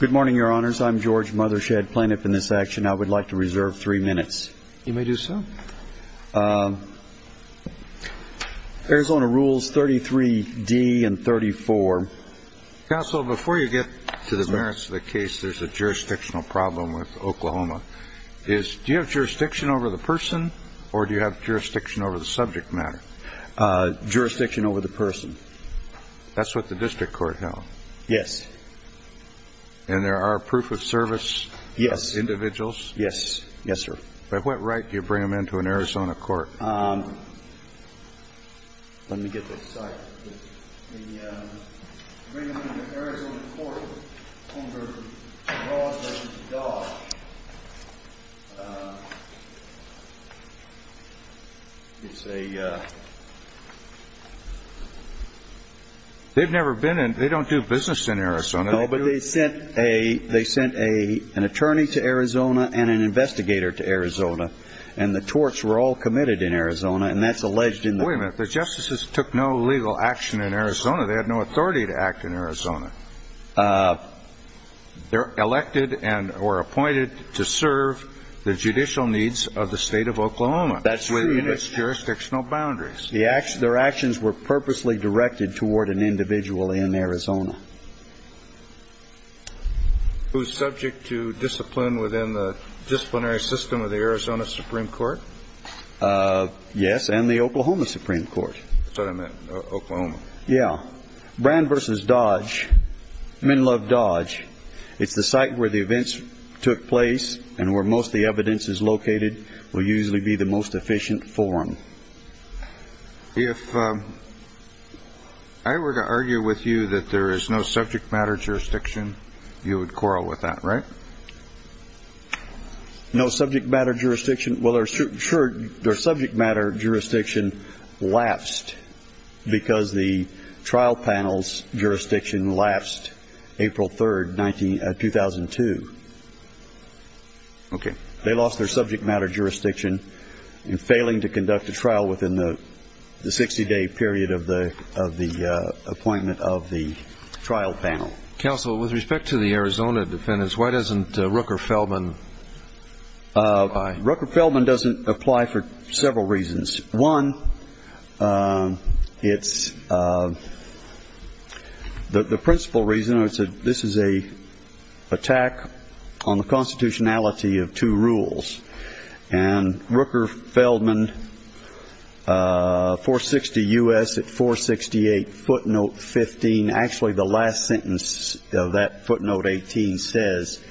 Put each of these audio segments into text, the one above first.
Good morning, Your Honors. I'm George Mothershed, plaintiff in this action. I would like to reserve three minutes. You may do so. Arizona Rules 33d and 34. Counsel, before you get to the merits of the case, there's a jurisdictional problem with Oklahoma. Do you have jurisdiction over the person or do you have jurisdiction over the subject matter? Jurisdiction over the person. That's what the district court held? Yes. And there are proof of service individuals? Yes. Yes, sir. By what right do you bring them into an Arizona court? Let me get this. Sorry. They bring them into an Arizona court under Ross v. Dodd. They've never been in. They don't do business in Arizona. No, but they sent an attorney to Arizona and an investigator to Arizona, and the torts were all committed in Arizona, and that's alleged in the court. Now, wait a minute. The justices took no legal action in Arizona. They had no authority to act in Arizona. They're elected and were appointed to serve the judicial needs of the state of Oklahoma. That's true. Within its jurisdictional boundaries. Their actions were purposely directed toward an individual in Arizona. Who's subject to discipline within the disciplinary system of the Arizona Supreme Court? Yes, and the Oklahoma Supreme Court. That's what I meant, Oklahoma. Yeah. Brand v. Dodge, Menlove Dodge, it's the site where the events took place and where most of the evidence is located, will usually be the most efficient forum. If I were to argue with you that there is no subject matter jurisdiction, you would quarrel with that, right? No subject matter jurisdiction? Well, sure, their subject matter jurisdiction lapsed because the trial panel's jurisdiction lapsed April 3rd, 2002. Okay. They lost their subject matter jurisdiction in failing to conduct a trial within the 60-day period of the appointment of the trial panel. Counsel, with respect to the Arizona defendants, why doesn't Rooker-Feldman apply? Rooker-Feldman doesn't apply for several reasons. One, it's the principal reason, this is an attack on the constitutionality of two rules. And Rooker-Feldman, 460 U.S. at 468 footnote 15, actually the last sentence of that footnote 18 says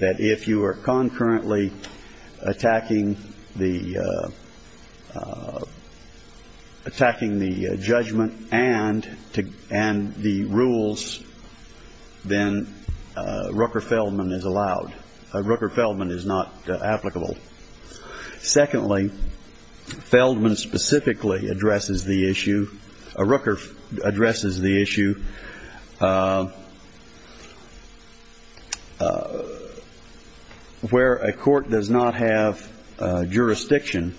that if you are concurrently attacking the judgment and the rules, then Rooker-Feldman is allowed. Secondly, Feldman specifically addresses the issue, Rooker addresses the issue, where a court does not have jurisdiction,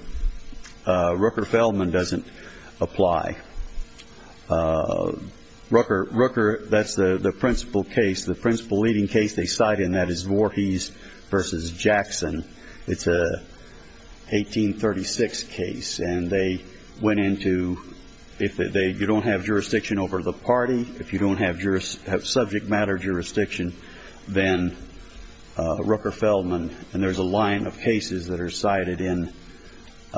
Rooker-Feldman doesn't apply. Rooker, that's the principal case, the principal leading case they cite in that is Voorhees v. Jackson. It's a 1836 case, and they went into, if you don't have jurisdiction over the party, if you don't have subject matter jurisdiction, then Rooker-Feldman, and there's a line of cases that are cited in Rooker,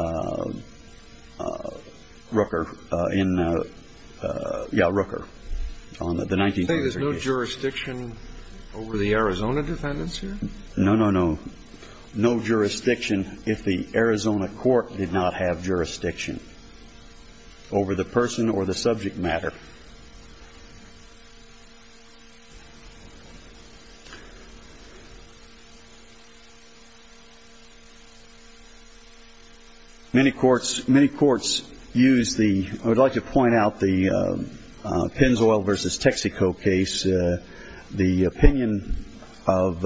in, yeah, Rooker, on the 1936 case. You say there's no jurisdiction over the Arizona defendants here? No, no, no. No jurisdiction if the Arizona court did not have jurisdiction over the person or the subject matter. Many courts use the, I would like to point out the Pennzoil v. Texaco case, the opinion of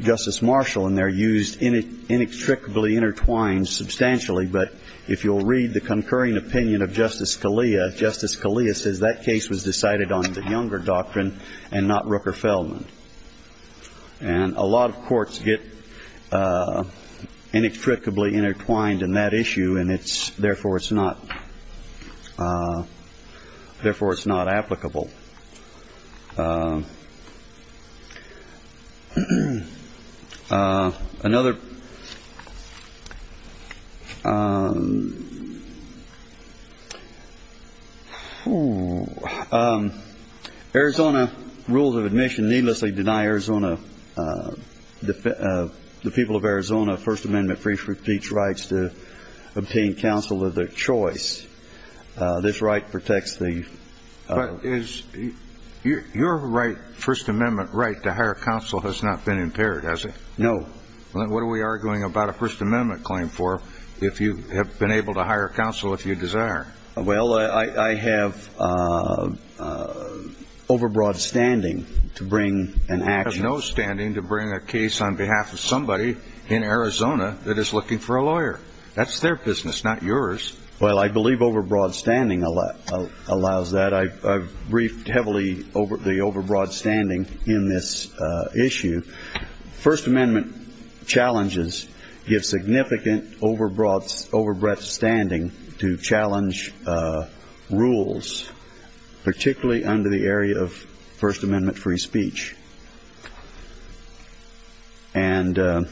Justice Marshall in there used inextricably intertwined substantially, but if you'll read the concurring opinion of Justice Scalia, Justice Scalia says that case was decided on the Younger doctrine and not Rooker-Feldman. And a lot of courts get inextricably intertwined in that issue, and it's, therefore, it's not, therefore, it's not applicable. Another, Arizona rules of admission needlessly deny Arizona, the people of Arizona, First Amendment free speech rights to obtain counsel of their choice. This right protects the... But is, your right, First Amendment right to hire counsel has not been impaired, has it? No. What are we arguing about a First Amendment claim for if you have been able to hire counsel if you desire? Well, I have overbroad standing to bring an action. You have no standing to bring a case on behalf of somebody in Arizona that is looking for a lawyer. That's their business, not yours. Well, I believe overbroad standing allows that. I've briefed heavily the overbroad standing in this issue. First Amendment challenges give significant overbroad standing to challenge rules, particularly under the area of First Amendment free speech. And the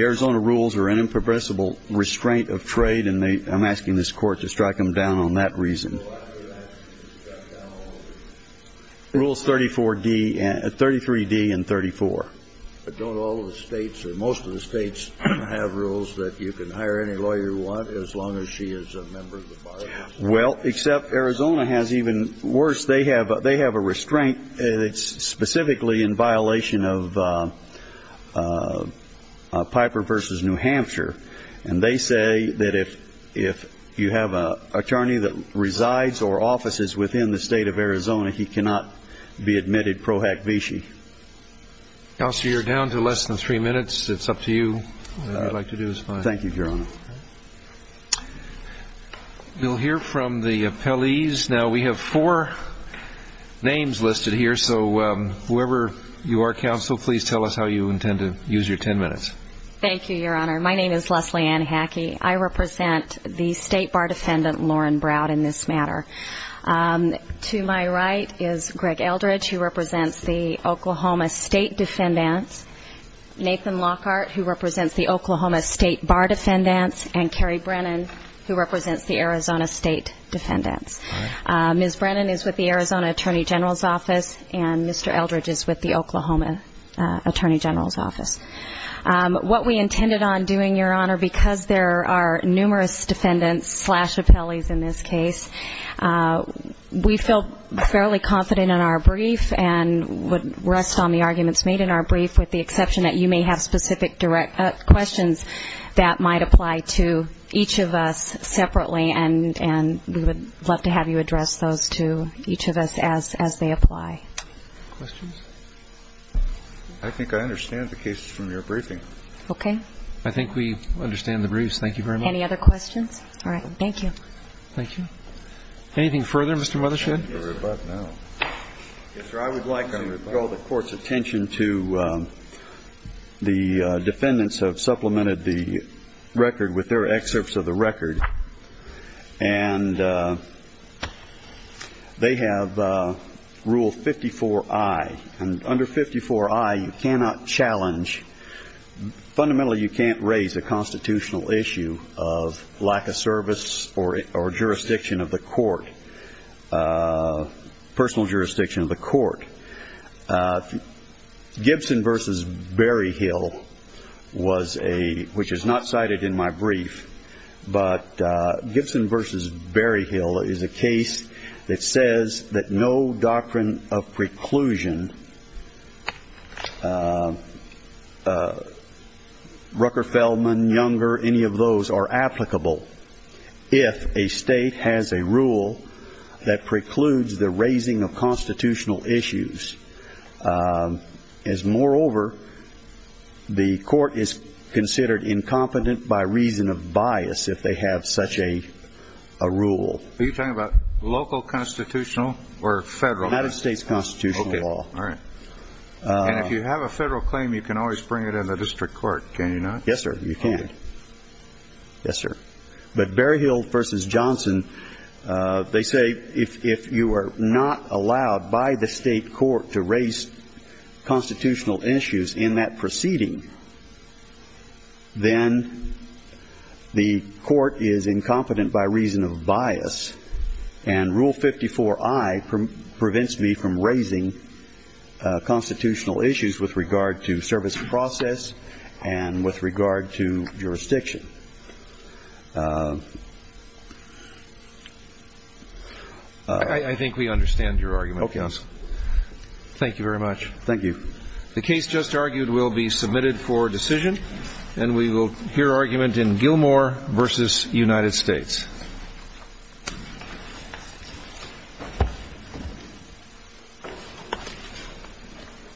Arizona rules are an impermissible restraint of trade, and I'm asking this Court to strike them down on that reason. Well, I would ask you to strike down all of them. Rules 34D and 33D and 34. But don't all of the states or most of the states have rules that you can hire any lawyer you want as long as she is a member of the bar? Well, except Arizona has even worse. They have a restraint that's specifically in violation of Piper v. New Hampshire. And they say that if you have an attorney that resides or offices within the state of Arizona, he cannot be admitted pro hack vici. Counselor, you're down to less than three minutes. It's up to you. Thank you, Your Honor. We'll hear from the appellees. Now, we have four names listed here, so whoever you are, counsel, please tell us how you intend to use your ten minutes. Thank you, Your Honor. My name is Leslie Ann Hackey. I represent the state bar defendant, Lauren Browd, in this matter. To my right is Greg Eldridge, who represents the Oklahoma state defendants, Nathan Lockhart, who represents the Oklahoma state bar defendants, and Kerry Brennan, who represents the Arizona state defendants. Ms. Brennan is with the Arizona Attorney General's Office, and Mr. Eldridge is with the Oklahoma Attorney General's Office. What we intended on doing, Your Honor, because there are numerous defendants slash appellees in this case, we felt fairly confident in our brief and would rest on the arguments made in our brief, with the exception that you may have specific questions that might apply to each of us separately, and we would love to have you address those to each of us as they apply. Questions? I think I understand the cases from your briefing. Okay. I think we understand the briefs. Thank you very much. Any other questions? All right. Thank you. Thank you. Anything further, Mr. Mothershed? I would like to draw the Court's attention to the defendants who have supplemented the record with their excerpts of the record. And they have Rule 54I. Under 54I, you cannot challenge, fundamentally you can't raise a constitutional issue of lack of service or jurisdiction of the court, Gibson v. Berryhill was a, which is not cited in my brief, but Gibson v. Berryhill is a case that says that no doctrine of preclusion, Rucker-Feldman, Younger, any of those are applicable if a state has a rule that precludes the raising of constitutional issues. As moreover, the court is considered incompetent by reason of bias if they have such a rule. Are you talking about local constitutional or federal? United States constitutional law. Okay. All right. And if you have a federal claim, you can always bring it in the district court, can you not? Yes, sir, you can. Okay. Yes, sir. But Berryhill v. Johnson, they say if you are not allowed by the state court to raise constitutional issues in that proceeding, then the court is incompetent by reason of bias and Rule 54I prevents me from raising constitutional issues with regard to service process and with regard to jurisdiction. I think we understand your argument, counsel. Thank you very much. Thank you. The case just argued will be submitted for decision, and we will hear argument in Gilmore v. United States.